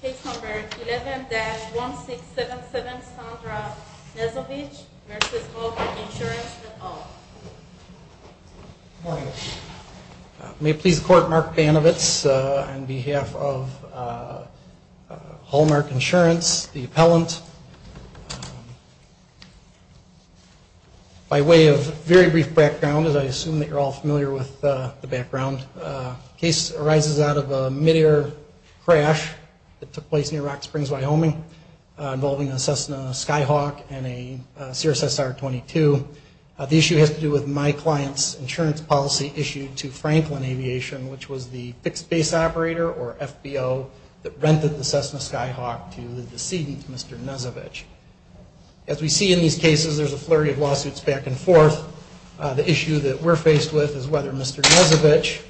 Case number 11-1677 Sandra Nezovich v. Hallmark Insurance et al. May it please the court, Mark Banovitz on behalf of Hallmark Insurance, the appellant. By way of very brief background, as I assume that you're all familiar with the background, the case arises out of a mid-air crash that took place near Rock Springs, Wyoming, involving a Cessna Skyhawk and a Cirrus SR-22. The issue has to do with my client's insurance policy issued to Franklin Aviation, which was the fixed base operator, or FBO, that rented the Cessna Skyhawk to the decedent, Mr. Nezovich. As we see in these cases, there's a flurry of lawsuits back and forth. The issue that we're faced with is whether Mr. Nezovich,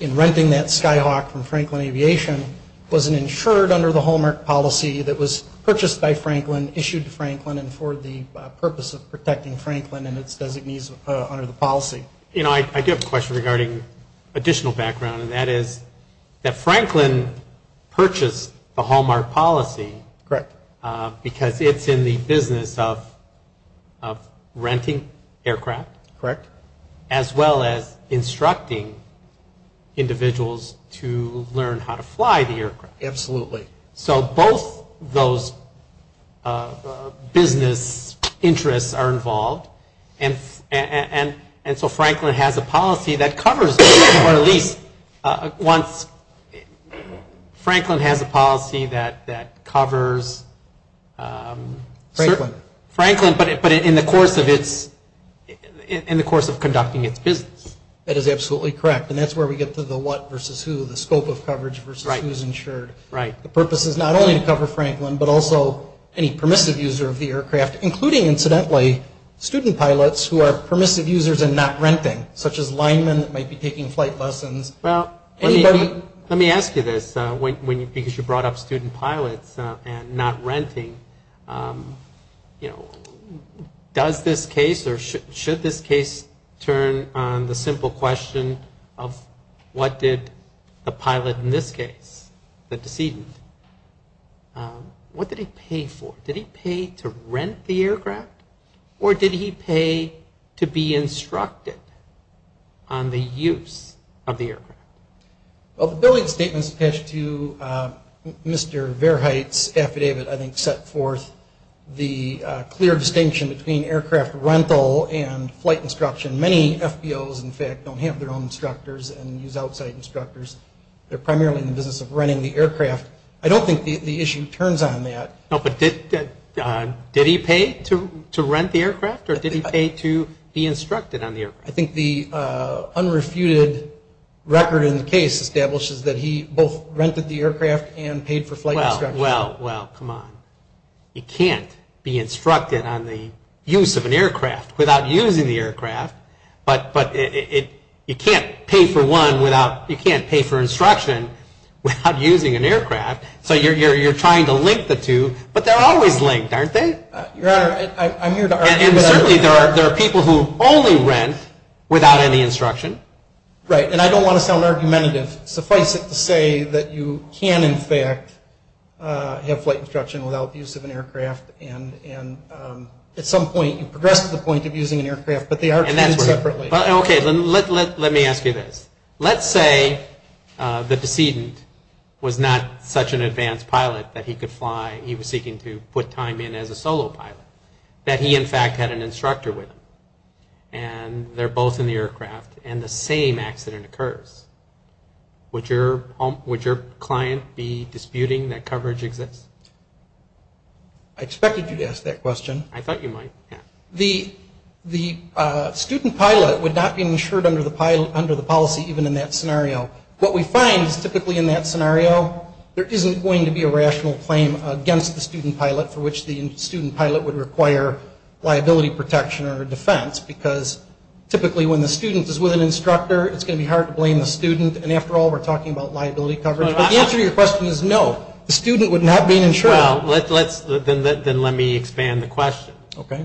in renting that Skyhawk from Franklin Aviation, was insured under the Hallmark policy that was purchased by Franklin, issued to Franklin, and for the purpose of protecting Franklin and its designees under the policy. You know, I do have a question regarding additional background, and that is that Franklin purchased the Hallmark policy. Correct. Because it's in the business of renting aircraft. Correct. As well as instructing individuals to learn how to fly the aircraft. Absolutely. So both those business interests are involved, and so Franklin has a policy that covers, Franklin has a policy that covers Franklin, but in the course of conducting its business. That is absolutely correct, and that's where we get to the what versus who, the scope of coverage versus who's insured. Right. The purpose is not only to cover Franklin, but also any permissive user of the aircraft, including, incidentally, student pilots who are permissive users and not renting, such as linemen that might be taking flight lessons. Well, let me ask you this, because you brought up student pilots and not renting. You know, does this case or should this case turn on the simple question of what did the pilot in this case, the decedent, what did he pay for? Did he pay to rent the aircraft, or did he pay to be instructed on the use of the aircraft? Well, the billing statements attached to Mr. Verheit's affidavit, I think, set forth the clear distinction between aircraft rental and flight instruction. Many FBOs, in fact, don't have their own instructors and use outside instructors. They're primarily in the business of renting the aircraft. I don't think the issue turns on that. No, but did he pay to rent the aircraft, or did he pay to be instructed on the aircraft? I think the unrefuted record in the case establishes that he both rented the aircraft and paid for flight instruction. Well, come on. You can't be instructed on the use of an aircraft without using the aircraft, but you can't pay for instruction without using an aircraft. So you're trying to link the two, but they're always linked, aren't they? Your Honor, I'm here to argue that... And certainly there are people who only rent without any instruction. Right, and I don't want to sound argumentative. Suffice it to say that you can, in fact, have flight instruction without the use of an aircraft, and at some point you progress to the point of using an aircraft, but they are treated separately. Okay, let me ask you this. Let's say the decedent was not such an advanced pilot that he could fly. He was seeking to put time in as a solo pilot, that he, in fact, had an instructor with him, and they're both in the aircraft, and the same accident occurs. Would your client be disputing that coverage exists? I expected you to ask that question. I thought you might, yeah. The student pilot would not be insured under the policy even in that scenario. What we find is typically in that scenario there isn't going to be a rational claim against the student pilot for which the student pilot would require liability protection or defense, because typically when the student is with an instructor it's going to be hard to blame the student, and after all we're talking about liability coverage. But the answer to your question is no, the student would not be insured. Well, then let me expand the question. Okay.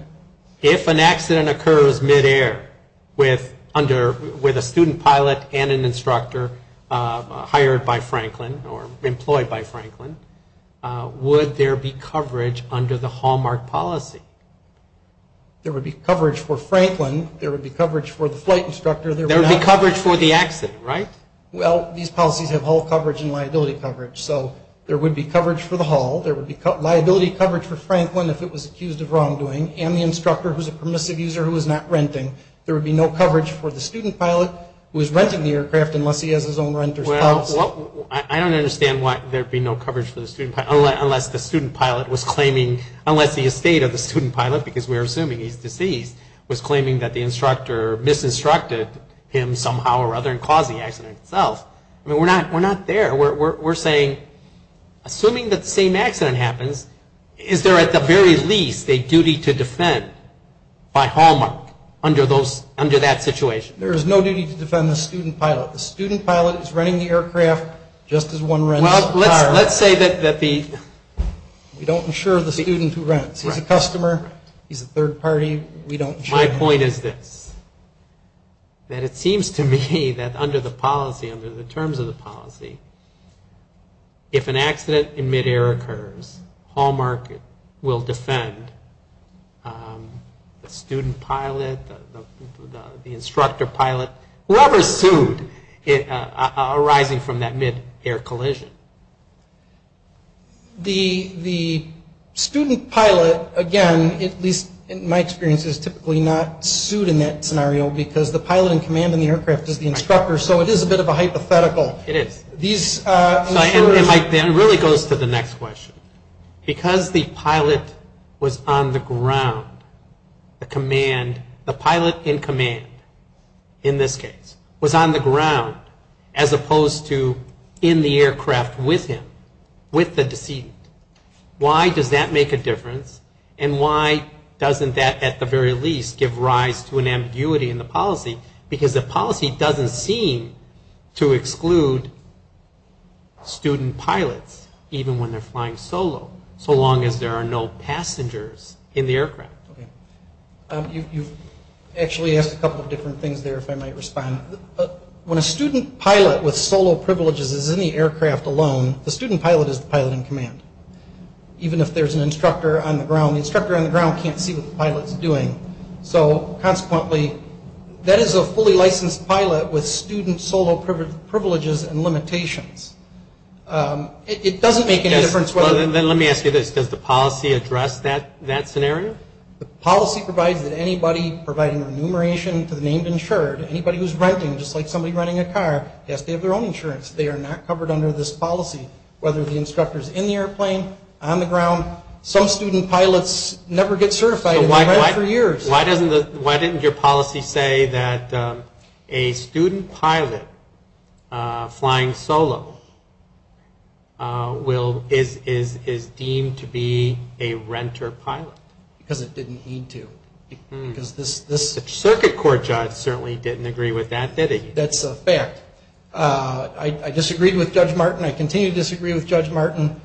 If an accident occurs midair with a student pilot and an instructor hired by Franklin or employed by Franklin, would there be coverage under the Hallmark policy? There would be coverage for Franklin. There would be coverage for the flight instructor. There would be coverage for the accident, right? Well, these policies have Hall coverage and liability coverage, so there would be coverage for the hall. There would be liability coverage for Franklin if it was accused of wrongdoing, and the instructor who is a permissive user who is not renting. There would be no coverage for the student pilot who is renting the aircraft unless he has his own renter's pass. Well, I don't understand why there would be no coverage for the student pilot unless the student pilot was claiming, unless the estate of the student pilot, because we're assuming he's deceased, was claiming that the instructor misinstructed him somehow or other and caused the accident itself. I mean, we're not there. We're saying, assuming that the same accident happens, is there at the very least a duty to defend by Hallmark under that situation? There is no duty to defend the student pilot. The student pilot is renting the aircraft just as one rents the car. Well, let's say that the… We don't insure the student who rents. He's a customer. He's a third party. We don't insure him. My point is this, that it seems to me that under the policy, under the terms of the policy, if an accident in midair occurs, Hallmark will defend the student pilot, the instructor pilot, whoever sued arising from that midair collision. The student pilot, again, at least in my experience is typically not sued in that scenario because the pilot in command in the aircraft is the instructor, so it is a bit of a hypothetical. It is. It really goes to the next question. Because the pilot was on the ground, the pilot in command, in this case, was on the ground as opposed to in the aircraft with him, with the decedent. Why does that make a difference and why doesn't that at the very least give rise to an ambiguity in the policy? Because the policy doesn't seem to exclude student pilots even when they're flying solo, so long as there are no passengers in the aircraft. You've actually asked a couple of different things there, if I might respond. When a student pilot with solo privileges is in the aircraft alone, the student pilot is the pilot in command, even if there's an instructor on the ground. The instructor on the ground can't see what the pilot's doing, so consequently that is a fully licensed pilot with student solo privileges and limitations. It doesn't make any difference. Let me ask you this. Does the policy address that scenario? The policy provides that anybody providing enumeration to the named insured, anybody who's renting, just like somebody renting a car, has to have their own insurance. They are not covered under this policy, whether the instructor's in the airplane, on the ground. Some student pilots never get certified and they've rented for years. Why didn't your policy say that a student pilot flying solo is deemed to be a renter pilot? Because it didn't need to. The circuit court judge certainly didn't agree with that, did he? That's a fact. I disagreed with Judge Martin. I continue to disagree with Judge Martin.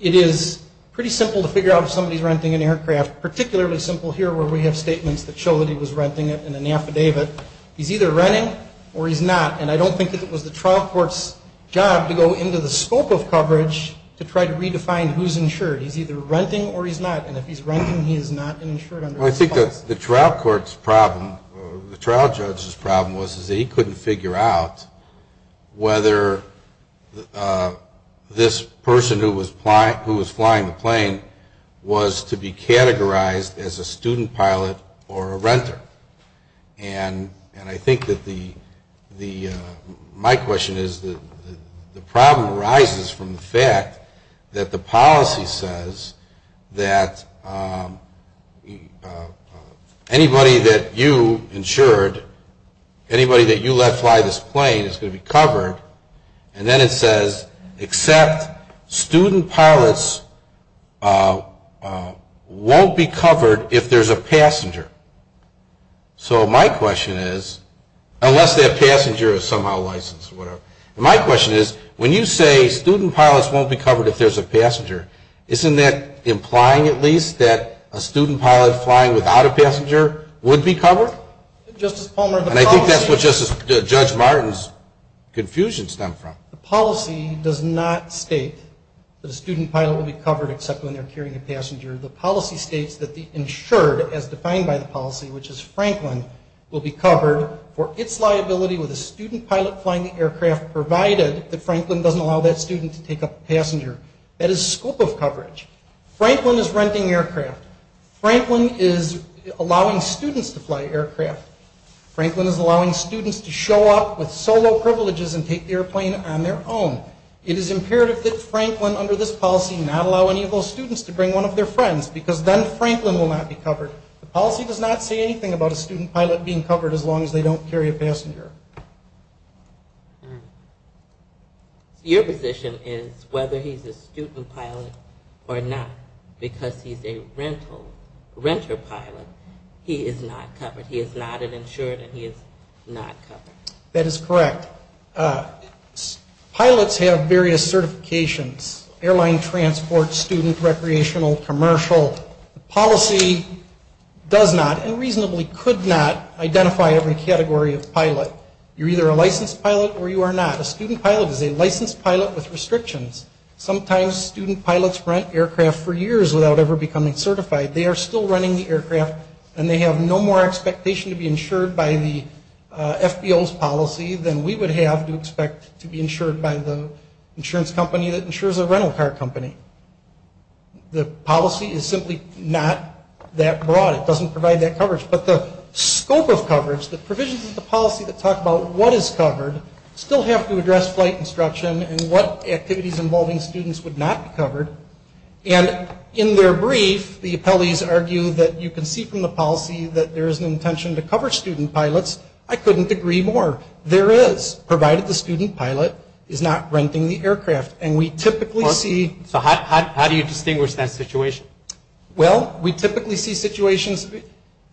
It is pretty simple to figure out if somebody's renting an aircraft, particularly simple here where we have statements that show that he was renting it in an affidavit. He's either renting or he's not, and I don't think it was the trial court's job to go into the scope of coverage to try to redefine who's insured. He's either renting or he's not, and if he's renting he's not insured under this policy. I think the trial court's problem, the trial judge's problem was that he couldn't figure out whether this person who was flying the plane was to be categorized as a student pilot or a renter. And I think that the, my question is, the problem arises from the fact that the policy says that anybody that you insured, anybody that you let fly this plane is going to be covered, and then it says, except student pilots won't be covered if there's a passenger. So my question is, unless that passenger is somehow licensed or whatever, my question is, when you say student pilots won't be covered if there's a passenger, isn't that implying at least that a student pilot flying without a passenger would be covered? And I think that's what Judge Martin's confusion stemmed from. The policy does not state that a student pilot will be covered except when they're carrying a passenger. The policy states that the insured, as defined by the policy, which is Franklin, will be covered for its liability with a student pilot flying the aircraft provided that Franklin doesn't allow that student to take a passenger. That is scope of coverage. Franklin is renting aircraft. Franklin is allowing students to fly aircraft. Franklin is allowing students to show up with solo privileges and take the airplane on their own. It is imperative that Franklin, under this policy, not allow any of those students to bring one of their friends because then Franklin will not be covered. The policy does not say anything about a student pilot being covered as long as they don't carry a passenger. Your position is whether he's a student pilot or not, because he's a renter pilot, he is not covered. He is not an insured, and he is not covered. That is correct. Pilots have various certifications, airline transport, student, recreational, commercial. The policy does not and reasonably could not identify every category of pilot. You're either a licensed pilot or you are not. A student pilot is a licensed pilot with restrictions. Sometimes student pilots rent aircraft for years without ever becoming certified. They are still running the aircraft, and they have no more expectation to be insured by the FBO's policy than we would have to expect to be insured by the insurance company that insures a rental car company. The policy is simply not that broad. It doesn't provide that coverage, but the scope of coverage, the provisions of the policy that talk about what is covered, still have to address flight instruction and what activities involving students would not be covered. And in their brief, the appellees argue that you can see from the policy that there is an intention to cover student pilots. I couldn't agree more. There is, provided the student pilot is not renting the aircraft. And we typically see... So how do you distinguish that situation? Well, we typically see situations...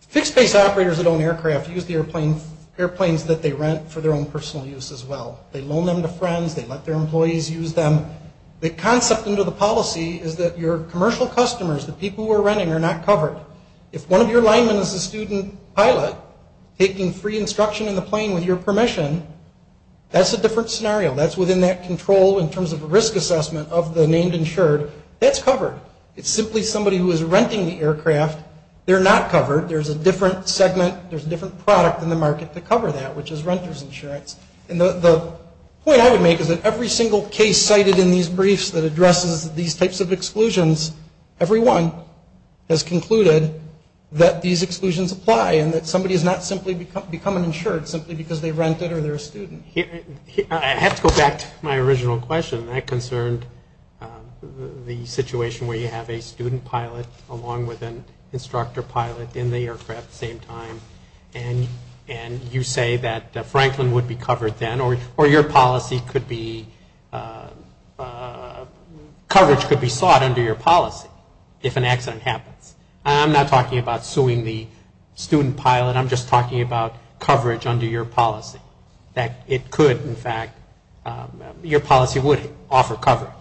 Fixed-base operators that own aircraft use the airplanes that they rent for their own personal use as well. They loan them to friends. They let their employees use them. The concept under the policy is that your commercial customers, the people who are renting, are not covered. If one of your linemen is a student pilot, taking free instruction in the plane with your permission, that's a different scenario. That's within that control in terms of a risk assessment of the named insured. That's covered. It's simply somebody who is renting the aircraft. They're not covered. There's a different segment. There's a different product in the market to cover that, which is renter's insurance. And the point I would make is that every single case cited in these briefs that addresses these types of exclusions, everyone has concluded that these exclusions apply and that somebody has not simply become an insured simply because they rent it or they're a student. I have to go back to my original question. That concerned the situation where you have a student pilot along with an instructor pilot in the aircraft at the same time, and you say that Franklin would be covered then, or your policy could be – coverage could be sought under your policy if an accident happens. I'm not talking about suing the student pilot. I'm just talking about coverage under your policy, that it could in fact – your policy would offer coverage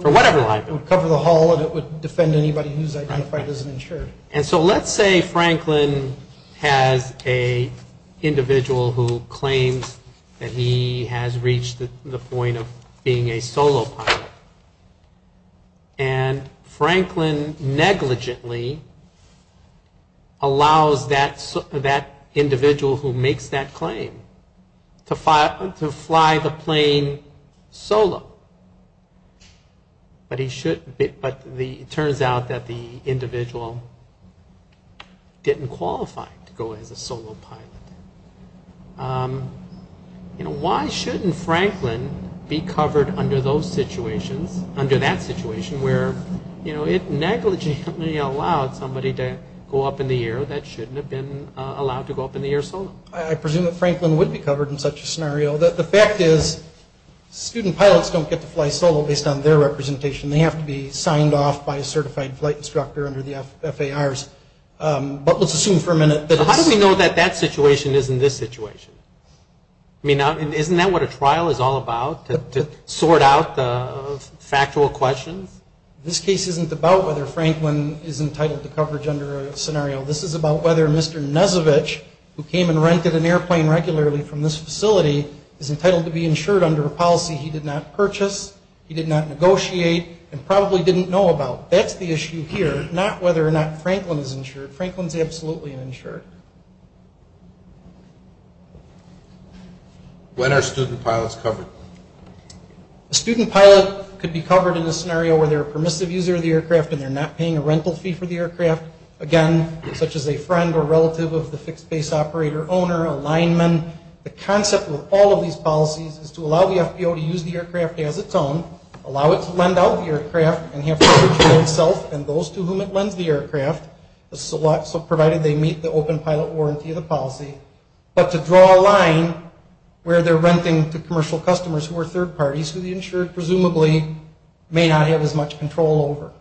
for whatever linemen. It would cover the whole and it would defend anybody who's identified as an insured. And so let's say Franklin has an individual who claims that he has reached the point of being a solo pilot. And Franklin negligently allows that individual who makes that claim to fly the plane solo. But it turns out that the individual didn't qualify to go as a solo pilot. You know, why shouldn't Franklin be covered under those situations, under that situation where, you know, it negligently allowed somebody to go up in the air that shouldn't have been allowed to go up in the air solo? I presume that Franklin would be covered in such a scenario. The fact is student pilots don't get to fly solo based on their representation. They have to be signed off by a certified flight instructor under the FARs. But let's assume for a minute that it's – How do we know that that situation isn't this situation? I mean, isn't that what a trial is all about, to sort out the factual questions? This case isn't about whether Franklin is entitled to coverage under a scenario. This is about whether Mr. Nesovich, who came and rented an airplane regularly from this facility, is entitled to be insured under a policy he did not purchase, he did not negotiate, and probably didn't know about. That's the issue here, not whether or not Franklin is insured. Franklin is absolutely insured. When are student pilots covered? A student pilot could be covered in a scenario where they're a permissive user of the aircraft and they're not paying a rental fee for the aircraft, again, such as a friend or relative of the fixed base operator owner, a lineman. The concept with all of these policies is to allow the FBO to use the aircraft as its own, allow it to lend out the aircraft and have coverage for itself and those to whom it lends the aircraft, so provided they meet the open pilot warranty of the policy, but to draw a line where they're renting to commercial customers who are third parties who the insured presumably may not have as much control over.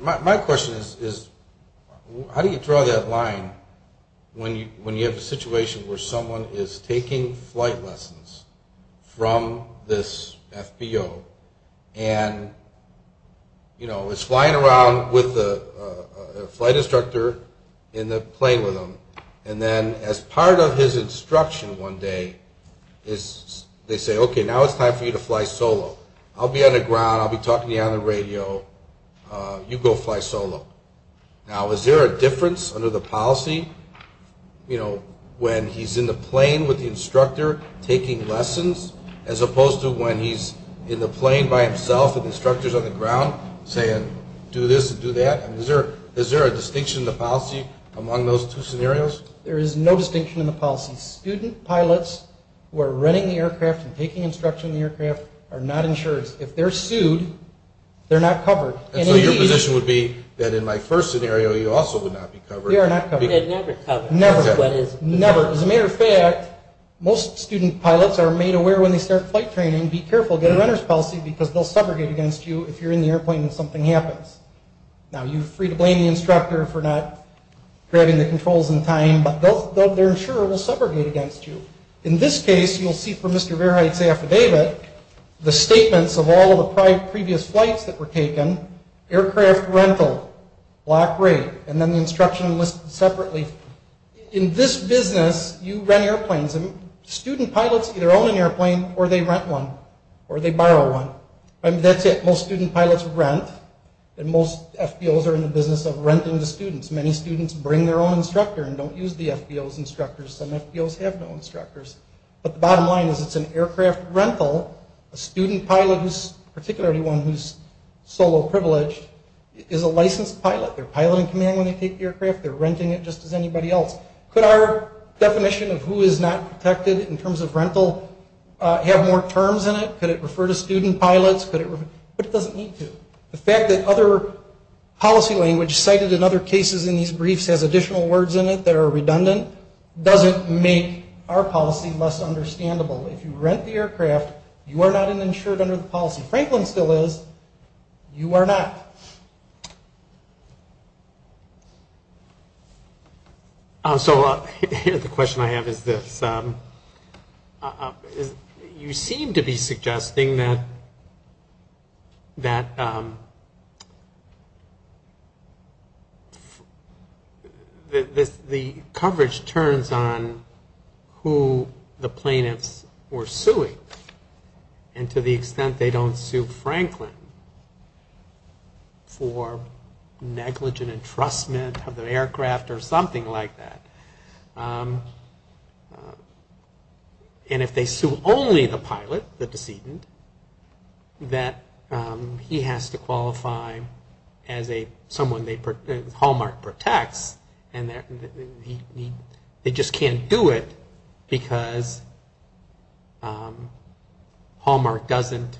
My question is, how do you draw that line when you have a situation where someone is taking flight lessons from this FBO and is flying around with a flight instructor in the plane with them, and then as part of his instruction one day they say, okay, now it's time for you to fly solo. I'll be on the ground. I'll be talking to you on the radio. You go fly solo. Now, is there a difference under the policy, you know, when he's in the plane with the instructor taking lessons as opposed to when he's in the plane by himself with instructors on the ground saying do this and do that? I mean, is there a distinction in the policy among those two scenarios? There is no distinction in the policy. Student pilots who are renting the aircraft and taking instruction in the aircraft are not insured. If they're sued, they're not covered. So your position would be that in my first scenario you also would not be covered? You are not covered. They're never covered. Never. As a matter of fact, most student pilots are made aware when they start flight training, be careful, get a renter's policy, because they'll subrogate against you if you're in the airplane and something happens. Now, you're free to blame the instructor for not grabbing the controls in time, but their insurer will subrogate against you. In this case, you'll see from Mr. Verheit's affidavit the statements of all of the previous flights that were taken, aircraft rental, lock rate, and then the instruction listed separately. In this business, you rent airplanes. Student pilots either own an airplane or they rent one or they borrow one. That's it. Most student pilots rent. And most FBOs are in the business of renting to students. Many students bring their own instructor and don't use the FBO's instructor. Some FBOs have no instructors. But the bottom line is it's an aircraft rental. A student pilot, particularly one who's solo privileged, is a licensed pilot. They're piloting command when they take the aircraft. They're renting it just as anybody else. Could our definition of who is not protected in terms of rental have more terms in it? Could it refer to student pilots? But it doesn't need to. The fact that other policy language cited in other cases in these briefs has additional words in it that are redundant doesn't make our policy less understandable. If you rent the aircraft, you are not insured under the policy. Franklin still is. You are not. So the question I have is this, you seem to be suggesting that the coverage turns on who the plaintiffs were suing. And to the extent they don't sue Franklin for negligent entrustment of the aircraft or something like that. And if they sue only the pilot, the decedent, that he has to qualify as a someone that Hallmark protects. They just can't do it because Hallmark doesn't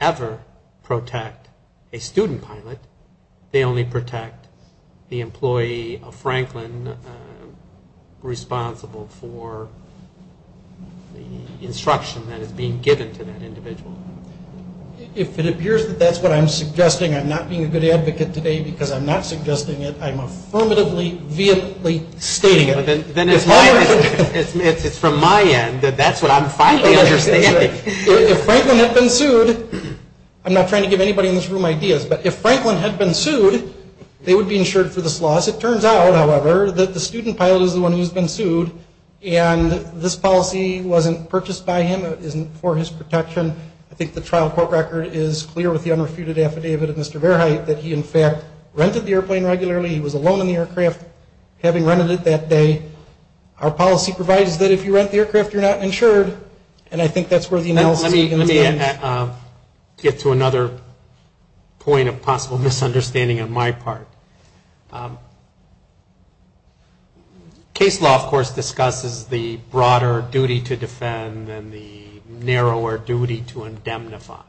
ever protect a student pilot. They only protect the employee of Franklin responsible for the instruction that is being given to that individual. If it appears that's what I'm suggesting, I'm not being a good advocate today because I'm not suggesting it, I'm affirmatively stating it. It's from my end that that's what I'm finally understanding. If Franklin had been sued, I'm not trying to give anybody in this room ideas, but if Franklin had been sued, they would be insured for this loss. It turns out, however, that the student pilot is the one who's been sued, and this policy wasn't purchased by him, it isn't for his protection. I think the trial court record is clear with the unrefuted affidavit of Mr. Verheit that he in fact rented the airplane regularly, he was alone in the aircraft having rented it that day. Our policy provides that if you rent the aircraft, you're not insured, and I think that's where the analysis begins. Let me get to another point of possible misunderstanding on my part. Case law, of course, discusses the broader duty to defend and the narrower duty to indemnify,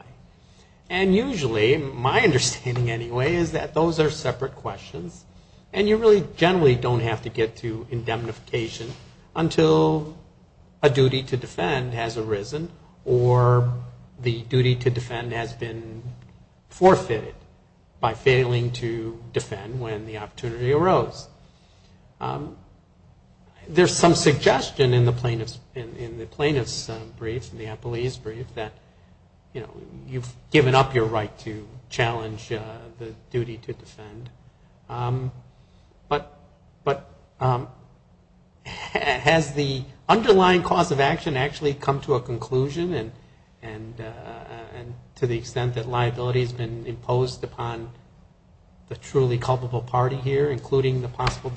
and usually, my understanding anyway, is that those are separate questions, and you really generally don't have to get to indemnification until a duty to defend has arisen or the duty to defend has been forfeited by failing to defend when the opportunity arose. There's some suggestion in the plaintiff's brief, in the appellee's brief, that you've given up your right to challenge the duty to defend, but has the underlying cause of action actually come to a conclusion and to the extent that liability has been imposed upon the truly culpable party here, including the possible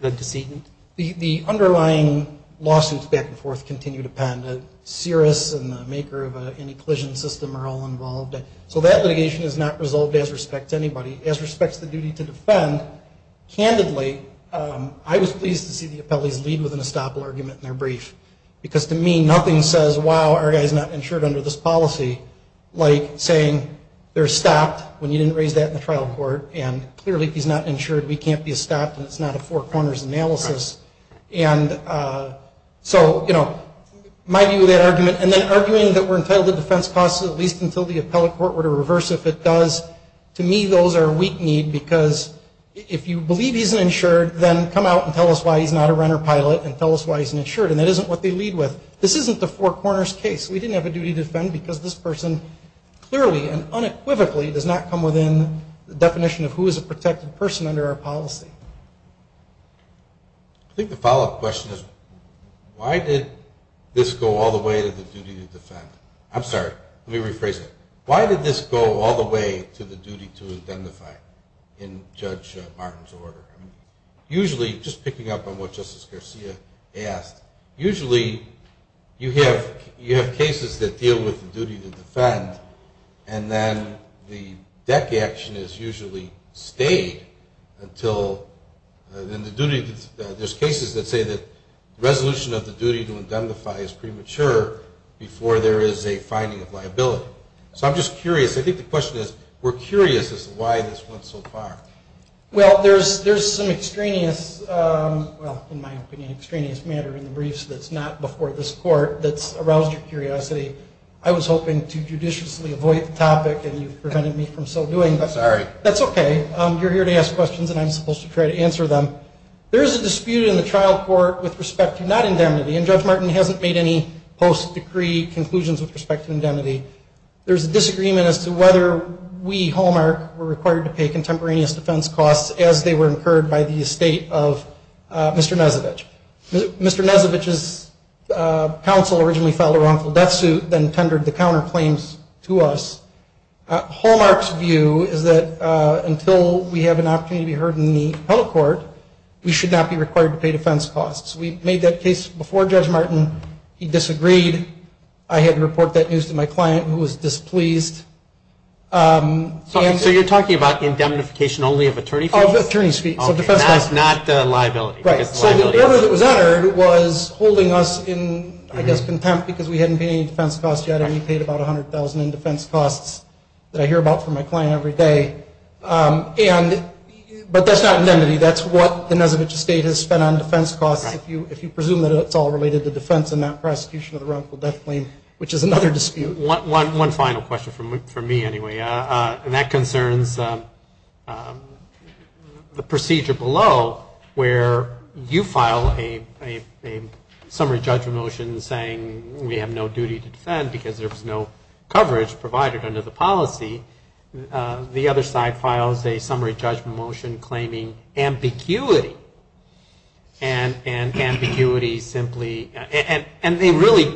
decedent? The underlying lawsuits back and forth continue to pen. Cirrus and the maker of any collision system are all involved. So that litigation is not resolved as respect to anybody. As respect to the duty to defend, candidly, I was pleased to see the appellee's lead with an estoppel argument in their brief, because to me, nothing says, wow, our guy's not insured under this policy, like saying they're going to use that in the trial court, and clearly if he's not insured, we can't be estopped, and it's not a four corners analysis. And so, you know, my view of that argument, and then arguing that we're entitled to defense costs at least until the appellate court were to reverse if it does, to me, those are a weak need, because if you believe he's insured, then come out and tell us why he's not a runner pilot and tell us why he's not insured, and that isn't what they lead with. This isn't the four corners case. We didn't have a duty to defend because this person clearly and unequivocally does not come within the definition of who is a protected person under our policy. I think the follow-up question is, why did this go all the way to the duty to defend? I'm sorry. Let me rephrase it. Why did this go all the way to the duty to identify in Judge Martin's order? Usually, just picking up on what Justice Garcia asked, usually you have cases that deal with the duty to defend, and then the deck action is usually stayed until then the duty, there's cases that say that the resolution of the duty to identify is premature before there is a finding of liability. So I'm just curious. I think the question is, we're curious as to why this went so far. Well, there's some extraneous, well, in my opinion, extraneous matter in the briefs that's not before this court that's aroused your curiosity. I was hoping to judiciously avoid the topic, and you've prevented me from so doing. I'm sorry. That's okay. You're here to ask questions, and I'm supposed to try to answer them. There is a dispute in the trial court with respect to not indemnity, and Judge Martin hasn't made any post-decree conclusions with respect to indemnity. There's a disagreement as to whether we, Hallmark, were required to pay contemporaneous defense costs as they were incurred by the estate of Mr. Nezevich. Mr. Nezevich's counsel originally filed a wrongful death suit, then tendered the counterclaims to us. Hallmark's view is that until we have an opportunity to be heard in the appellate court, there is a dispute that we should not be required to pay defense costs. We made that case before Judge Martin. He disagreed. I had to report that news to my client, who was displeased. So you're talking about indemnification only of attorney fees? Of attorney fees, so defense costs. Okay, not liability. So the order that was uttered was holding us in, I guess, contempt because we hadn't paid any defense costs yet, and we paid about $100,000 in defense costs that I hear about from my client every day. But that's not indemnity. That's what the Nezevich estate has spent on defense costs. If you presume that it's all related to defense and not prosecution of the wrongful death claim, which is another dispute. One final question for me, anyway. And that concerns the procedure below, where you file a summary judgment motion saying we have no duty to defend because there was no coverage provided under the policy. The other side files a summary judgment motion claiming ambiguity. And ambiguity simply, and they really,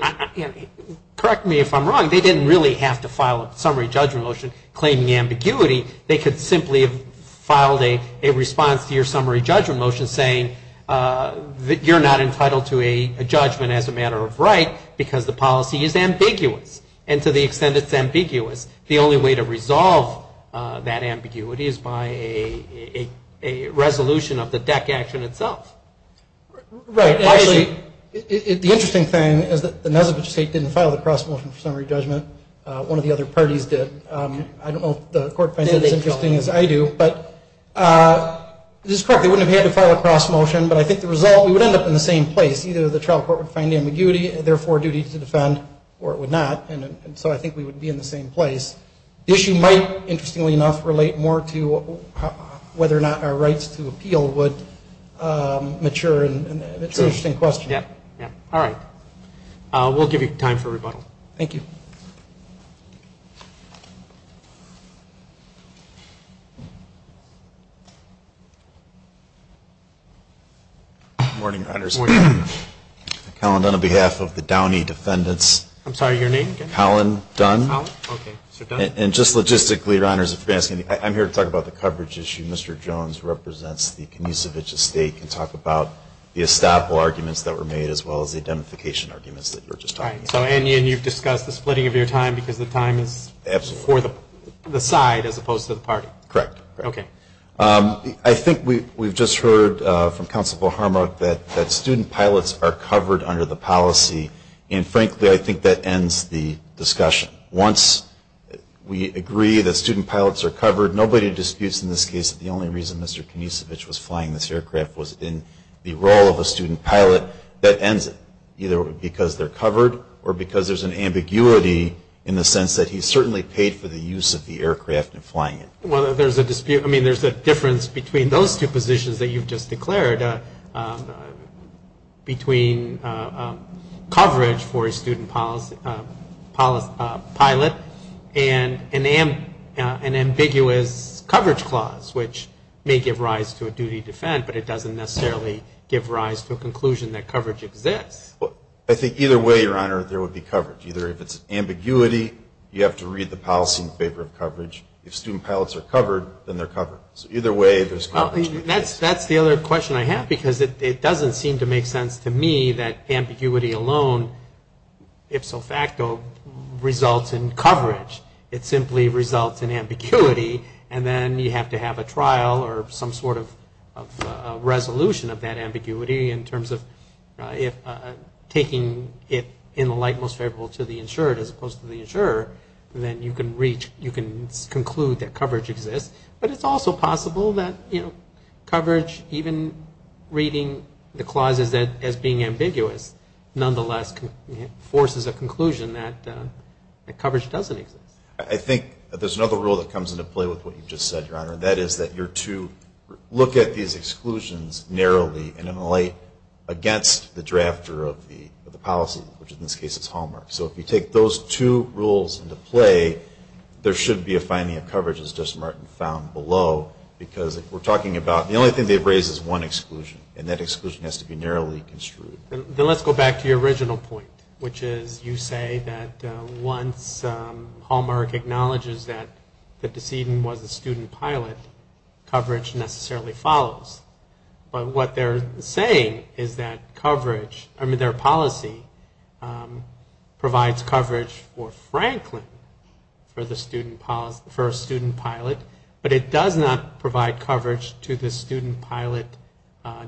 correct me if I'm wrong, they didn't really have to file a summary judgment motion claiming ambiguity. They could simply have filed a response to your summary judgment motion saying that you're not entitled to a judgment as a matter of right because the policy is ambiguous. And to the extent it's ambiguous, the only way to resolve that ambiguity is by a resolution of the DEC action itself. Right. And actually, the interesting thing is that the Nezevich estate didn't file the cross motion for summary judgment. One of the other parties did. I don't know if the court finds that as interesting as I do. But this is correct. They wouldn't have had to file a cross motion. But I think the result, we would end up in the same place. Either the trial court would find ambiguity and therefore duty to defend or it would not. And so I think we would be in the same place. The issue might, interestingly enough, relate more to whether or not our rights to appeal would mature. And it's an interesting question. Yeah. All right. We'll give you time for rebuttal. Thank you. Good morning, Your Honors. Good morning. Colin Dunn on behalf of the Downey Defendants. I'm sorry, your name again? Colin Dunn. And just logistically, Your Honors, I'm here to talk about the coverage issue. Mr. Jones represents the Nezevich estate. He can talk about the estoppel arguments that were made as well as the identification arguments that you were just talking about. And you've discussed the splitting of your time because the time is for the side as opposed to the party. Correct. I think we've just heard from Counsel Volharmak that student pilots are covered under the policy. And frankly, I think that ends the discussion. Once we agree that student pilots are covered, nobody disputes in this case that the only reason Mr. Nezevich was flying this aircraft was in the role of a student pilot. That ends it. Either because they're covered or because there's an ambiguity in the sense that he certainly paid for the use of the aircraft in flying it. Well, there's a dispute. I mean, there's a difference between those two positions that you've just declared, between coverage for a student pilot and an ambiguous coverage clause, which may give rise to a duty to defend, but it doesn't necessarily give rise to a conclusion that coverage exists. I think either way, Your Honor, there would be coverage. Either if it's ambiguity, you have to read the policy in favor of coverage. If student pilots are covered, then they're covered. So either way, there's coverage. That's the other question I have because it doesn't seem to make sense to me that ambiguity alone, ipso facto, results in coverage. It simply results in ambiguity, and then you have to have a trial or some sort of resolution of that ambiguity in terms of if taking it in the light most favorable to the insured as opposed to the insurer, then you can reach, you can conclude that coverage exists. But it's also possible that coverage, even reading the clauses as being ambiguous, nonetheless forces a conclusion that coverage doesn't exist. I think there's another rule that comes into play with what you just said, Your Honor, and that is that you're to look at these exclusions narrowly and in the light against the drafter of the policy, which in this case is Hallmark. So if you take those two rules into play, there should be a finding of coverage, as Justice Martin found below, because we're talking about the only thing they've raised is one exclusion, and that exclusion has to be narrowly construed. Then let's go back to your original point, which is you say that once Hallmark acknowledges that the decedent was a student pilot, coverage necessarily follows. But what they're saying is that coverage, I mean their policy provides coverage for Franklin for a student pilot, but it does not provide coverage to the student pilot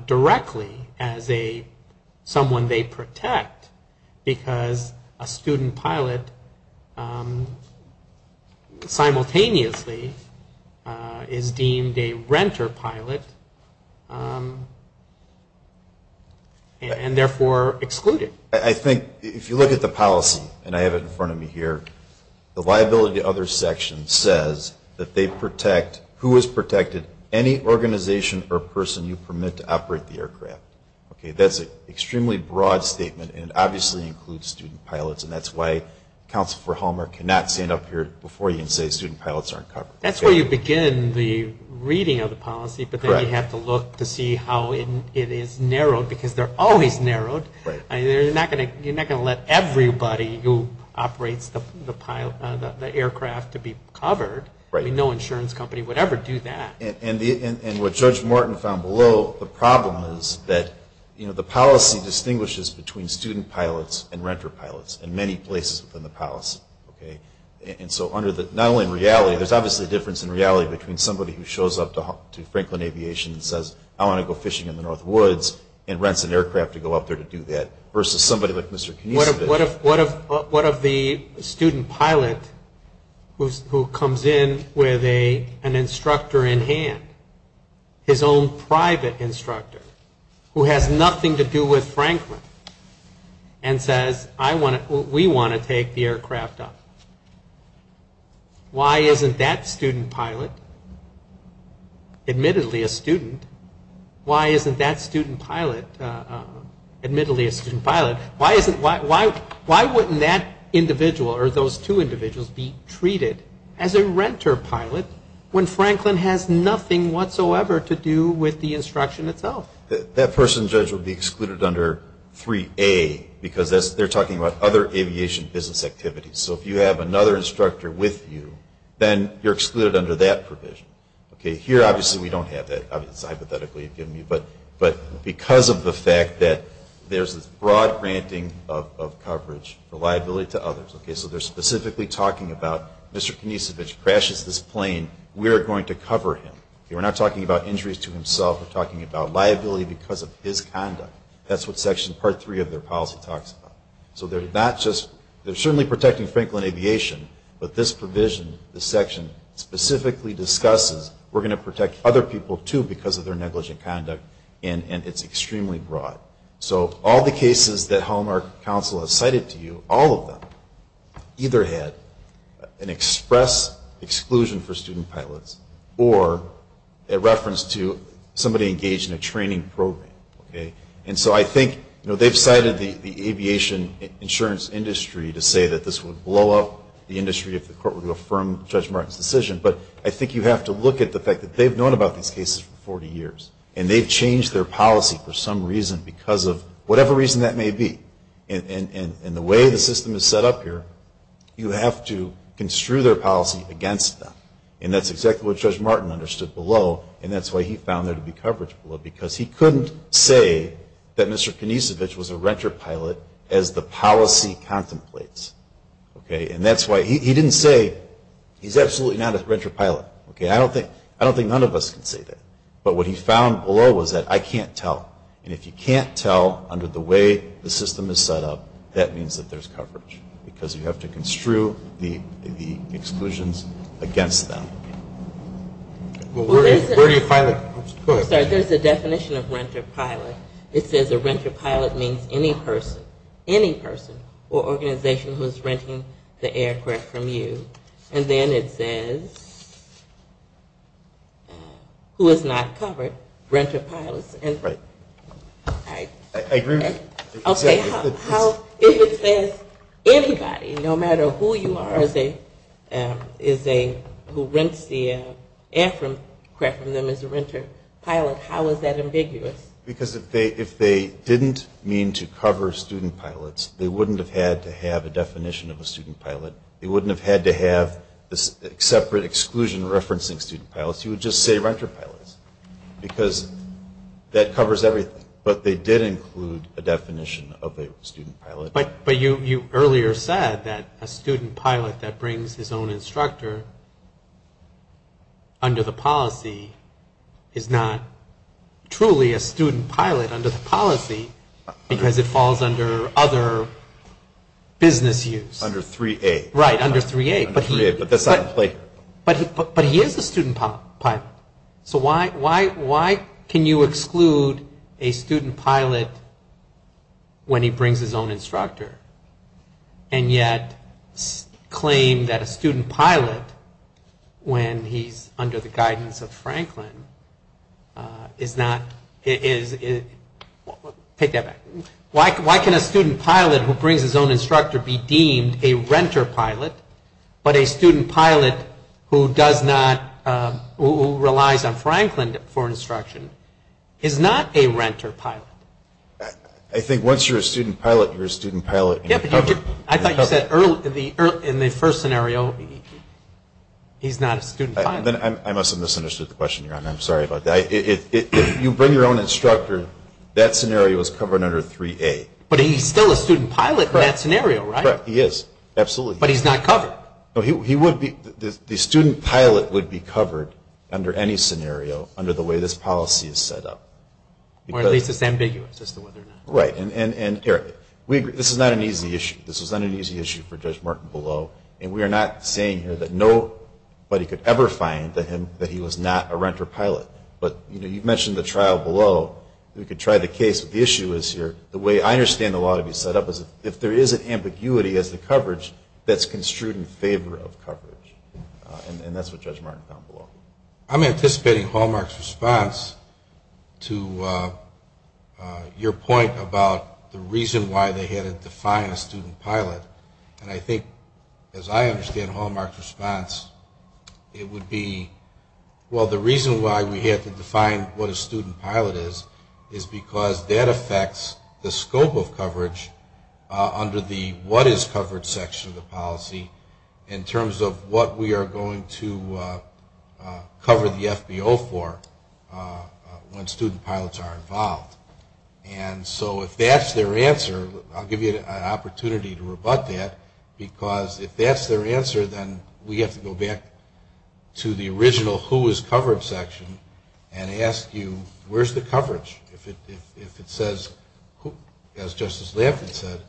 directly as someone they protect, because a student pilot simultaneously is deemed a renter pilot and therefore excluded. I think if you look at the policy, and I have it in front of me here, the liability of others section says that they protect, who is protected, any organization or person you permit to operate the aircraft. That's an extremely broad statement, and it doesn't include student pilots, and that's why Counsel for Hallmark cannot stand up here before you and say student pilots aren't covered. That's where you begin the reading of the policy, but then you have to look to see how it is narrowed, because they're always narrowed. You're not going to let everybody who operates the aircraft to be covered. No insurance company would ever do that. And what Judge Martin found below, the problem is that the policy distinguishes between student pilots and students. And renter pilots in many places within the policy. There's obviously a difference in reality between somebody who shows up to Franklin Aviation and says I want to go fishing in the North Woods and rents an aircraft to go up there to do that, versus somebody like Mr. Knisevich. What if the student pilot who comes in with an instructor in hand, his own private instructor, who has nothing to do with the instruction itself, says we want to take the aircraft up? Why isn't that student pilot, admittedly a student, why isn't that student pilot, admittedly a student pilot, why wouldn't that individual or those two individuals be treated as a renter pilot when Franklin has nothing whatsoever to do with the instruction itself? That person, Judge, would be excluded under 3A, because they're talking about other aviation business activities. So if you have another instructor with you, then you're excluded under that provision. Here, obviously, we don't have that. It's hypothetically given to me. But because of the fact that there's this broad granting of coverage for liability to others, so they're specifically talking about Mr. Knisevich crashes this plane, we're going to cover him. We're not talking about injuries to himself, we're talking about liability because of his conduct. That's what section part three of their policy talks about. So they're certainly protecting Franklin Aviation, but this provision, this section, specifically discusses we're going to protect other people, too, because of their negligent conduct, and it's extremely broad. So all the cases that Hallmark Council has cited to you, all of them, either had an express exclusion for student pilots, or a reference to somebody engaged in a training program. And so I think, you know, they've cited the aviation insurance industry to say that this would blow up the industry if the court would affirm Judge Martin's decision, but I think you have to look at the fact that they've known about these cases for 40 years, and they've changed their policy for some reason because of whatever reason that may be. And the way the system is set up here, you have to construe their policy against them. And that's exactly what Judge Martin understood below, and that's why he found there to be coverage below, because he couldn't say that Mr. Knisevich was a renter pilot as the policy contemplates. Okay, and that's why he didn't say he's absolutely not a renter pilot. I don't think none of us can say that, but what he found below was that I can't tell. And if you can't tell under the way the system is set up, that means that there's coverage, because you have to construe the policy against them. There's a definition of renter pilot. It says a renter pilot means any person, any person or organization who is renting the aircraft from you. And then it says, who is not covered, renter pilots. Right. And if you can't tell who rents the aircraft from them as a renter pilot, how is that ambiguous? Because if they didn't mean to cover student pilots, they wouldn't have had to have a definition of a student pilot. They wouldn't have had to have this separate exclusion referencing student pilots. You would just say renter pilots, because that covers everything. But they did include a definition of a student pilot. But you earlier said that a student pilot that brings his own instructor under the policy is not truly a student pilot under the policy, because it falls under other business use. Under 3A. But he is a student pilot. So why can you exclude a student pilot when he brings his own instructor? And yet claim that a student pilot, when he's under the guidance of Franklin, is not, is, take that back. Why can a student pilot who brings his own instructor be deemed a renter pilot, but a student pilot who does not, who relies on Franklin for instruction is not a renter pilot? I think once you're a student pilot, you're a student pilot. I thought you said in the first scenario, he's not a student pilot. I must have misunderstood the question. I'm sorry about that. If you bring your own instructor, that scenario is covered under 3A. But he's still a student pilot in that scenario, right? He is. Absolutely. But he's not covered. The student pilot would be covered under any scenario under the way this policy is set up. Or at least it's ambiguous as to whether or not. Right. And this is not an easy issue. This is not an easy issue for Judge Martin below. And we are not saying here that nobody could ever find that he was not a renter pilot. But you mentioned the trial below. We could try the case, but the issue is here. The way I understand the law to be set up is if there is an ambiguity as to coverage, that's construed in favor of coverage. And that's what Judge Martin found below. I'm anticipating Hallmark's response to your point about the reason why they had to define a student pilot. And I think as I understand Hallmark's response, it would be, well, the reason why we had to define what a student pilot is, is because that affects the scope of coverage under the what is covered section of the policy in terms of what we are going to cover the FBO for when student pilots are involved. And so if that's their answer, I'll give you an opportunity to rebut that, because if that's their answer, then we have to go back to the original who is covered section and ask you, where's the coverage? If it says, as Justice Lafren said,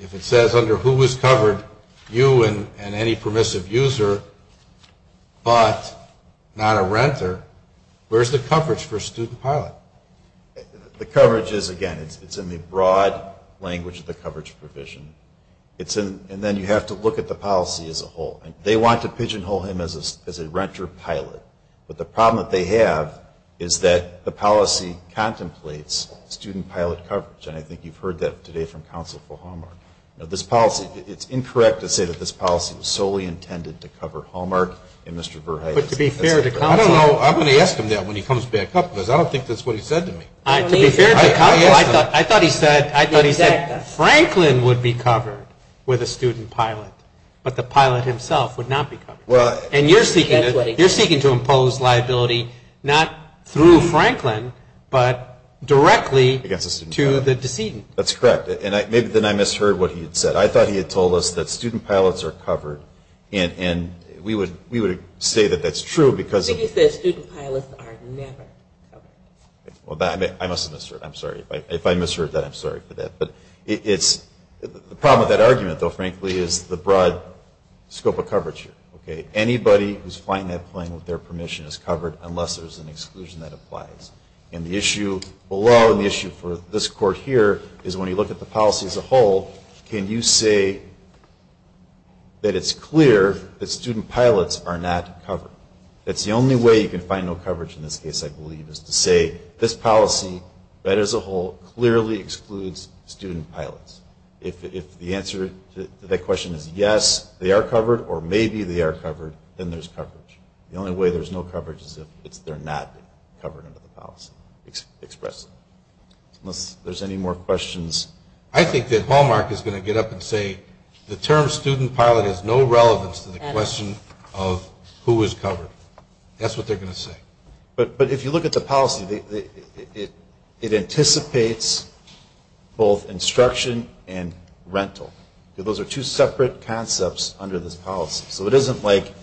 if it says under who is covered, you and any permissive user, but not a renter, where's the coverage for a student pilot? The coverage is, again, it's in the broad language of the coverage provision. And then you have to look at the policy as a whole. They want to pigeonhole him as a renter pilot. And I think you've heard that today from counsel for Hallmark. It's incorrect to say that this policy was solely intended to cover Hallmark and Mr. Berheide. But to be fair to counsel, I thought he said Franklin would be covered with a student pilot, but the pilot himself would not be covered. And you're seeking to impose liability, not through Franklin, but directly to the decedent. That's correct. And maybe then I misheard what he had said. I thought he had told us that student pilots are covered, and we would say that that's true because... I must have misheard, I'm sorry. If I misheard that, I'm sorry for that. The problem with that argument, though, frankly, is the broad scope of coverage here. Anybody who's flying that plane with their permission is covered unless there's an exclusion that applies. And the issue below, and the issue for this court here, is when you look at the policy as a whole, can you say that it's clear that student pilots are not covered? That's the only way you can find no coverage in this case, I believe, is to say this policy, that as a whole, clearly excludes student pilots. If the answer to that question is yes, they are covered, or maybe they are covered, then there's coverage. The only way there's no coverage is if they're not covered under the policy expressly. Unless there's any more questions. I think that Hallmark is going to get up and say the term student pilot has no relevance to the question of who is covered. That's what they're going to say. But if you look at the policy, it anticipates both instruction and rental. Those are two separate concepts under this policy. So it isn't like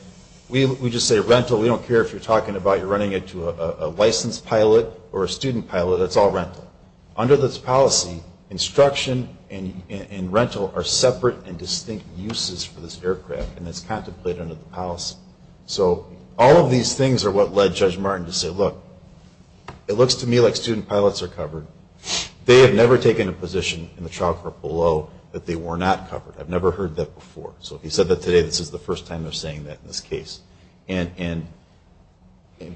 we just say rental, we don't care if you're running it to a licensed pilot or a student pilot, it's all rental. Under this policy, instruction and rental are separate and distinct uses for this aircraft, and it's contemplated under the policy. So all of these things are what led Judge Martin to say, look, it looks to me like student pilots are covered. They have never taken a position in the trial court below that they were not covered. I've never heard that before. So if he said that today, this is the first time they're saying that in this case. And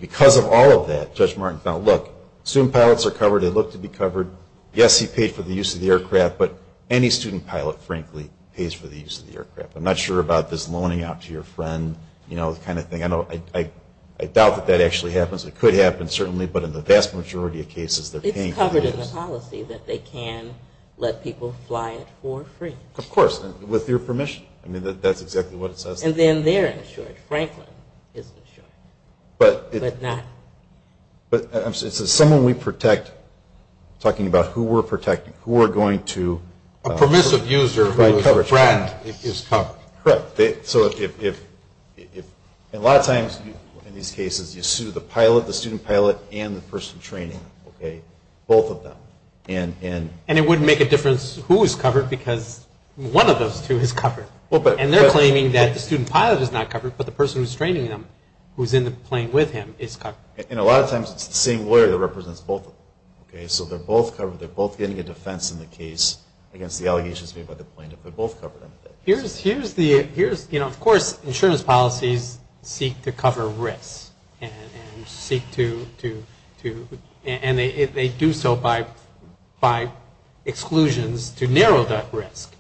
because of all of that, Judge Martin felt, look, student pilots are covered, they look to be covered. Yes, he paid for the use of the aircraft, but any student pilot, frankly, pays for the use of the aircraft. I'm not sure about this loaning out to your friend kind of thing. I doubt that that actually happens. It could happen, certainly, but in the vast majority of cases, they're paying for the use. It's part of the policy that they can let people fly it for free. Of course, with your permission. And then they're insured. Franklin is insured. Someone we protect, talking about who we're protecting, who we're going to provide coverage for. A permissive user who is a friend is covered. Correct. A lot of times in these cases, you sue the pilot, the student pilot, and the person training them. Both of them. And it wouldn't make a difference who is covered, because one of those two is covered. And they're claiming that the student pilot is not covered, but the person who's training them, who's in the plane with him, is covered. And a lot of times, it's the same lawyer that represents both of them. So they're both getting a defense in the case against the allegations made by the plaintiff. Of course, insurance policies seek to cover risks. And they do so by exclusions to narrow that risk.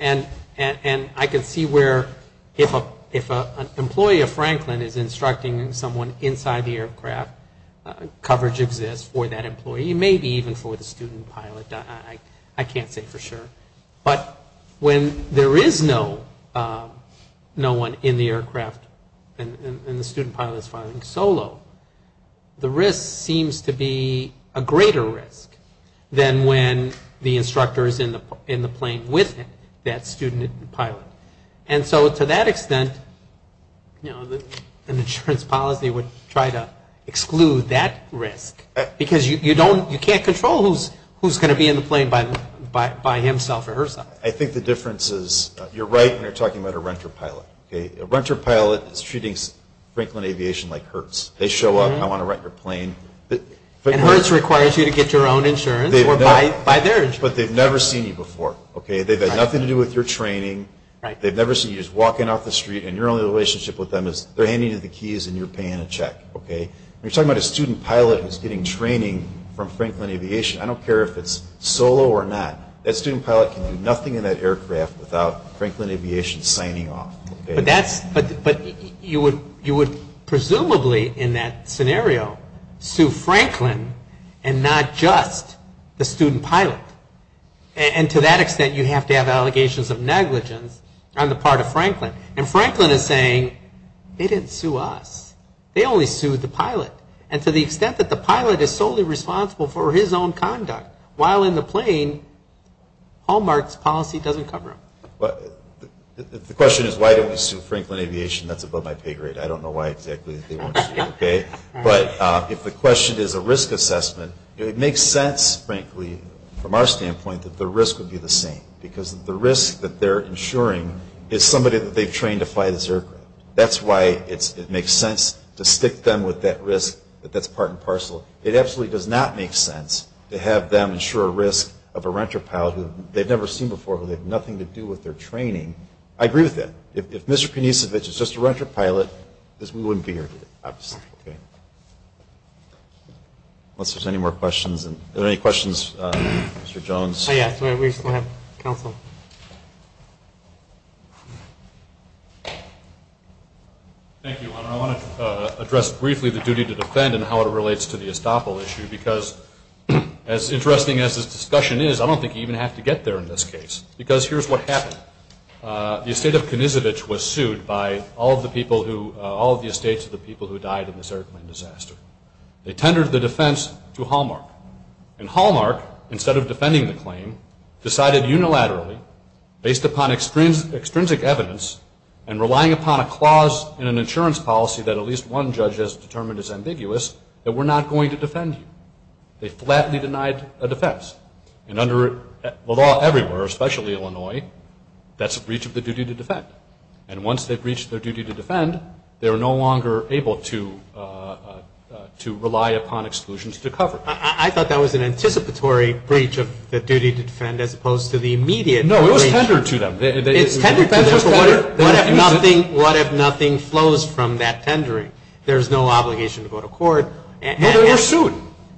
And I can see where, if an employee of Franklin is instructing someone inside the aircraft, coverage exists for that employee. Maybe even for the student pilot. I can't say for sure. But when there is no one in the aircraft, and the student pilot is flying solo, the risk seems to be a greater risk than when the instructor is in the plane with him, that student pilot. And so to that extent, an insurance policy would try to exclude that risk. Because you can't control who's going to be in the plane by himself or herself. I think the difference is, you're right when you're talking about a renter pilot. A renter pilot is treating Franklin Aviation like Hertz. They show up, I want to rent your plane. And Hertz requires you to get your own insurance or buy their insurance. But they've never seen you before. They've had nothing to do with your training. They've never seen you. You're just walking off the street and your only relationship with them is they're handing you the keys and you're paying a check. When you're talking about a student pilot who's getting training from Franklin Aviation, I don't care if it's solo or not, that student pilot can do nothing in that aircraft without Franklin Aviation signing off. But you would presumably, in that scenario, sue Franklin and not just the student pilot. And to that extent, you have to have allegations of negligence on the part of Franklin. And Franklin is saying, they didn't sue us. They only sued the pilot. And to the extent that the pilot is solely responsible for his own conduct while in the plane, Hallmark's policy doesn't cover him. The question is, why didn't we sue Franklin Aviation? That's above my pay grade. I don't know why exactly they won't sue. But if the question is a risk assessment, it makes sense, frankly, from our standpoint, that the risk would be the same. Because the risk that they're insuring is somebody that they've trained to fly this aircraft. That's why it makes sense to stick them with that risk that's part and parcel. It absolutely does not make sense to have them insure a risk of a renter pilot who they've never seen before, who they have nothing to do with their training. I agree with that. If Mr. Kunicevic is just a renter pilot, we wouldn't be here today, obviously. Unless there's any more questions. Are there any questions, Mr. Jones? Thank you. I want to address briefly the duty to defend and how it relates to the Estoppel issue. Because as interesting as this discussion is, I don't think you even have to get there in this case. Because here's what happened. The estate of Kunicevic was sued by all of the estates of the people who died in this airplane disaster. They tendered the defense to Hallmark. And Hallmark, instead of defending the claim, decided unilaterally, based upon extrinsic evidence and relying upon a clause in an insurance policy that at least one judge has determined is ambiguous, that we're not going to defend you. They flatly denied a defense. And under law everywhere, especially Illinois, that's a breach of the duty to defend. And once they've breached their duty to defend, they're no longer able to rely upon exclusions to cover. I thought that was an anticipatory breach of the duty to defend as opposed to the immediate breach. No, it was tendered to them. It's tendered to them. What if nothing flows from that tendering? There's no obligation to go to court. No, they were sued.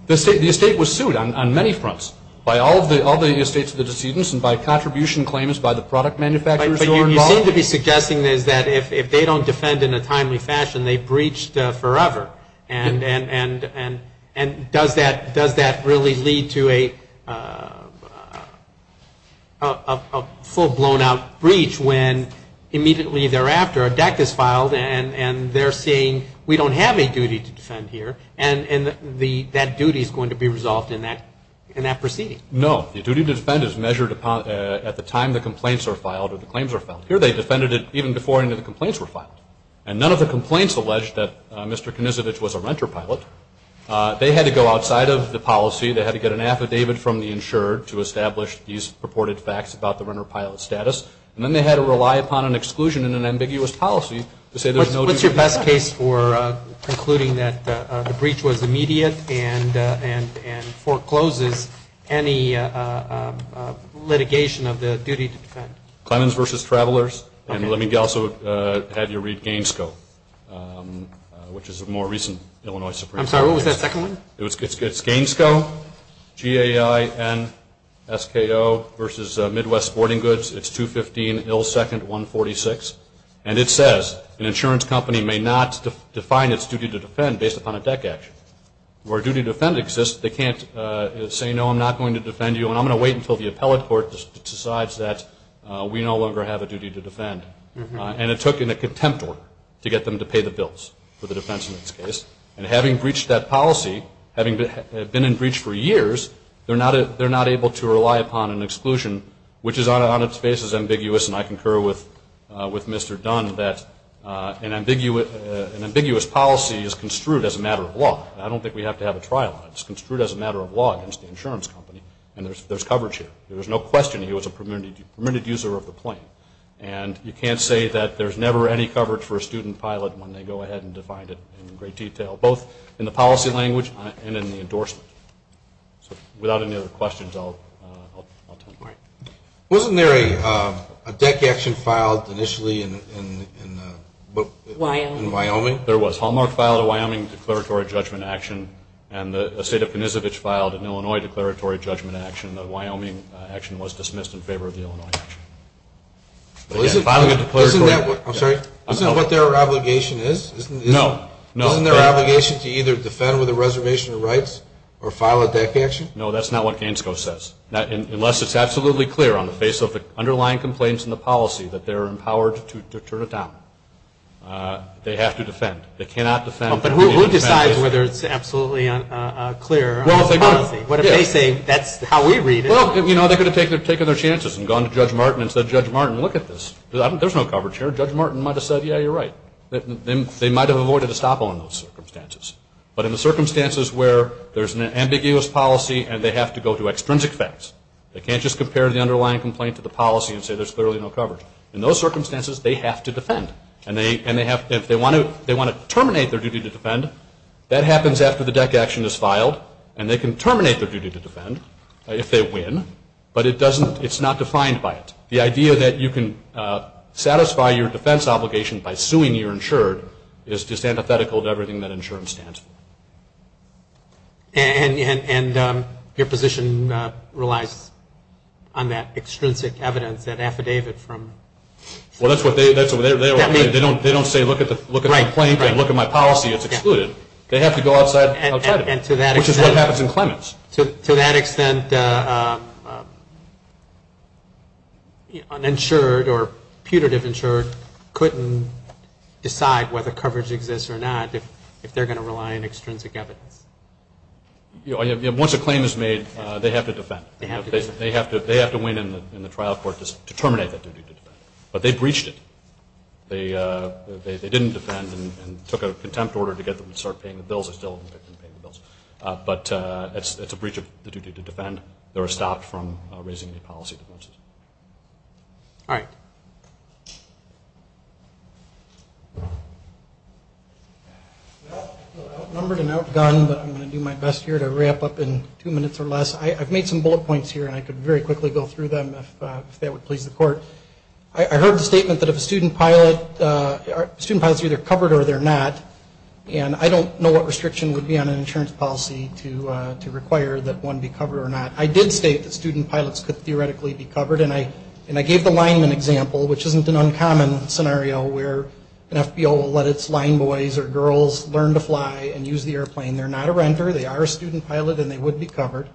The estate was sued on many fronts, by all of the estates of the decedents and by contribution claims by the product manufacturers who were involved. But you seem to be suggesting that if they don't defend in a timely fashion, they breached forever. And does that really lead to a full-blown-out breach when immediately thereafter a deck is filed and they're saying, we don't have a duty to defend here, and that duty is going to be resolved in that proceeding? No. The duty to defend is measured at the time the complaints are filed or the claims are filed. Here, they defended it even before any of the complaints were filed. And none of the complaints alleged that Mr. Knizovich was a renter pilot. They had to go outside of the policy. They had to get an affidavit from the insured to establish these purported facts about the renter pilot status. And then they had to rely upon an exclusion in an ambiguous policy to say there's no duty to defend. And let me also have you read GAINSCO, which is a more recent Illinois Supreme Court case. I'm sorry, what was that second one? It's GAINSCO, G-A-I-N-S-K-O, versus Midwest Sporting Goods. It's 215 Hill 2nd, 146. And it says an insurance company may not define its duty to defend based upon a deck action. Where a duty to defend exists, they can't say, no, I'm not going to defend you, and I'm going to wait until the appellate court decides that we no longer have a duty to defend. And it took in a contempt order to get them to pay the bills for the defense in this case. And having breached that policy, having been in breach for years, they're not able to rely upon an exclusion, which is on its face as ambiguous. And I concur with Mr. Dunn that an ambiguous policy is construed as a matter of law. And there's coverage here. There's no question he was a permitted user of the plane. And you can't say that there's never any coverage for a student pilot when they go ahead and defined it in great detail, both in the policy language and in the endorsement. So without any other questions, I'll turn it over. Wasn't there a deck action filed initially in Wyoming? There was. Hallmark filed a Wyoming declaratory judgment action, and the state of Kanishevich filed an Illinois declaratory judgment action. The Wyoming action was dismissed in favor of the Illinois action. Isn't that what their obligation is? No. Isn't their obligation to either defend with a reservation of rights or file a deck action? No, that's not what Gansko says, unless it's absolutely clear on the face of the underlying complaints in the policy that they're empowered to turn it down. They have to defend. They cannot defend. But who decides whether it's absolutely clear on the policy? Well, they could have taken their chances and gone to Judge Martin and said, Judge Martin, look at this. There's no coverage here. Judge Martin might have said, yeah, you're right. They might have avoided a stop on those circumstances. But in the circumstances where there's an ambiguous policy and they have to go to extrinsic facts, they can't just compare the underlying complaint to the policy and say there's clearly no coverage. In those circumstances, they have to defend. And if they want to terminate their duty to defend, that happens after the deck action is filed, and they can terminate their duty to defend if they win. But it's not defined by it. The idea that you can satisfy your defense obligation by suing your insured is just antithetical to everything that insurance stands for. And your position relies on that extrinsic evidence, that affidavit? Well, they don't say look at the complaint and look at my policy. It's excluded. They have to go outside of it, which is what happens in claimants. To that extent, an insured or putative insured couldn't decide whether coverage exists or not if they're going to rely on extrinsic evidence. Once a claim is made, they have to defend. They have to win in the trial court to terminate that duty to defend. But they breached it. They didn't defend and took a contempt order to get them to start paying the bills. But it's a breach of the duty to defend. They were stopped from raising any policy defenses. All right. Outnumbered and outgunned, but I'm going to do my best here to wrap up in two minutes or less. I've made some bullet points here, and I could very quickly go through them if that would please the court. I heard the statement that if a student pilot is either covered or they're not, and I don't know what restriction would be on an insurance policy to require that one be covered or not. I did state that student pilots could theoretically be covered, and I gave the lineman example, which isn't an uncommon scenario where an FBO will let its lineboys or girls learn to fly and use the airplane. They're not a renter. They are a student pilot, and they would be covered.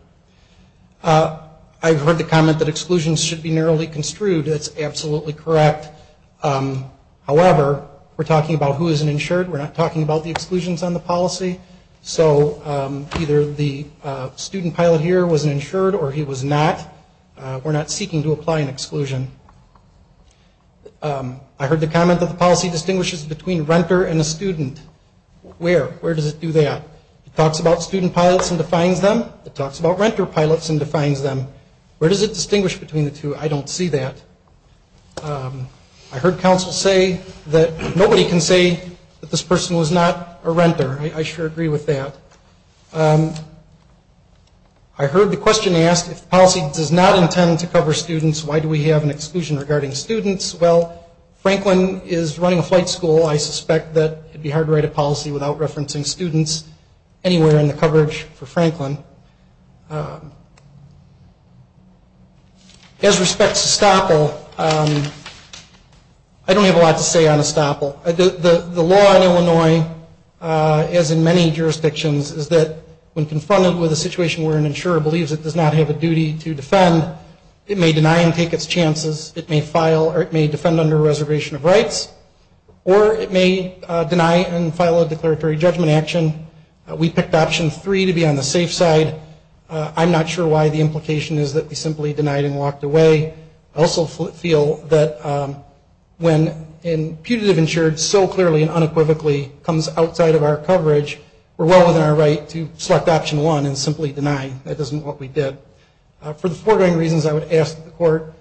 I've heard the comment that exclusions should be narrowly construed. That's absolutely correct. However, we're talking about who is an insured. We're not talking about the exclusions on the policy. So either the student pilot here was an insured or he was not. We're not seeking to apply an exclusion. I heard the comment that the policy distinguishes between renter and a student. Where? Where does it do that? It talks about student pilots and defines them. It talks about renter pilots and defines them. Where does it distinguish between the two? I don't see that. I heard counsel say that nobody can say that this person was not a renter. I sure agree with that. I heard the question asked if the policy does not intend to cover students, why do we have an exclusion regarding students? Well, Franklin is running a flight school. I suspect that it would be hard to write a policy without referencing students anywhere in the coverage for Franklin. As respects to estoppel, I don't have a lot to say on estoppel. The law in Illinois, as in many jurisdictions, is that when confronted with a situation where an insurer believes it does not have a duty to defend, it may deny and file a declaratory judgment action. We picked option three to be on the safe side. I'm not sure why the implication is that we simply denied and walked away. I also feel that when a putative insured so clearly and unequivocally comes outside of our coverage, we're well within our right to select option one and simply deny. That isn't what we did. For the foregoing reasons, I would ask that the court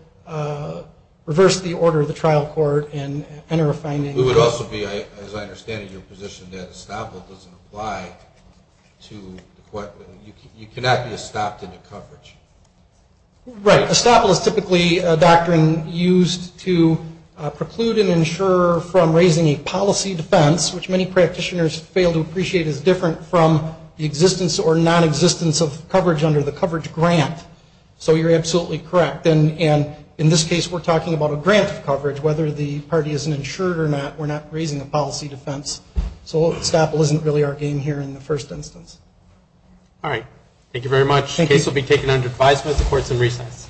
reverse the order of the trial court and enter a finding. It would also be, as I understand it, your position that estoppel doesn't apply. You cannot be estopped in the coverage. Right. Estoppel is typically a doctrine used to preclude an insurer from raising a policy defense, which many practitioners fail to appreciate as different from the existence or nonexistence of coverage under the coverage grant. In this case, we're talking about a grant of coverage. We're not raising a policy defense. Estoppel isn't really our game here in the first instance. Thank you very much. The case will be taken under advisement of the courts in recess.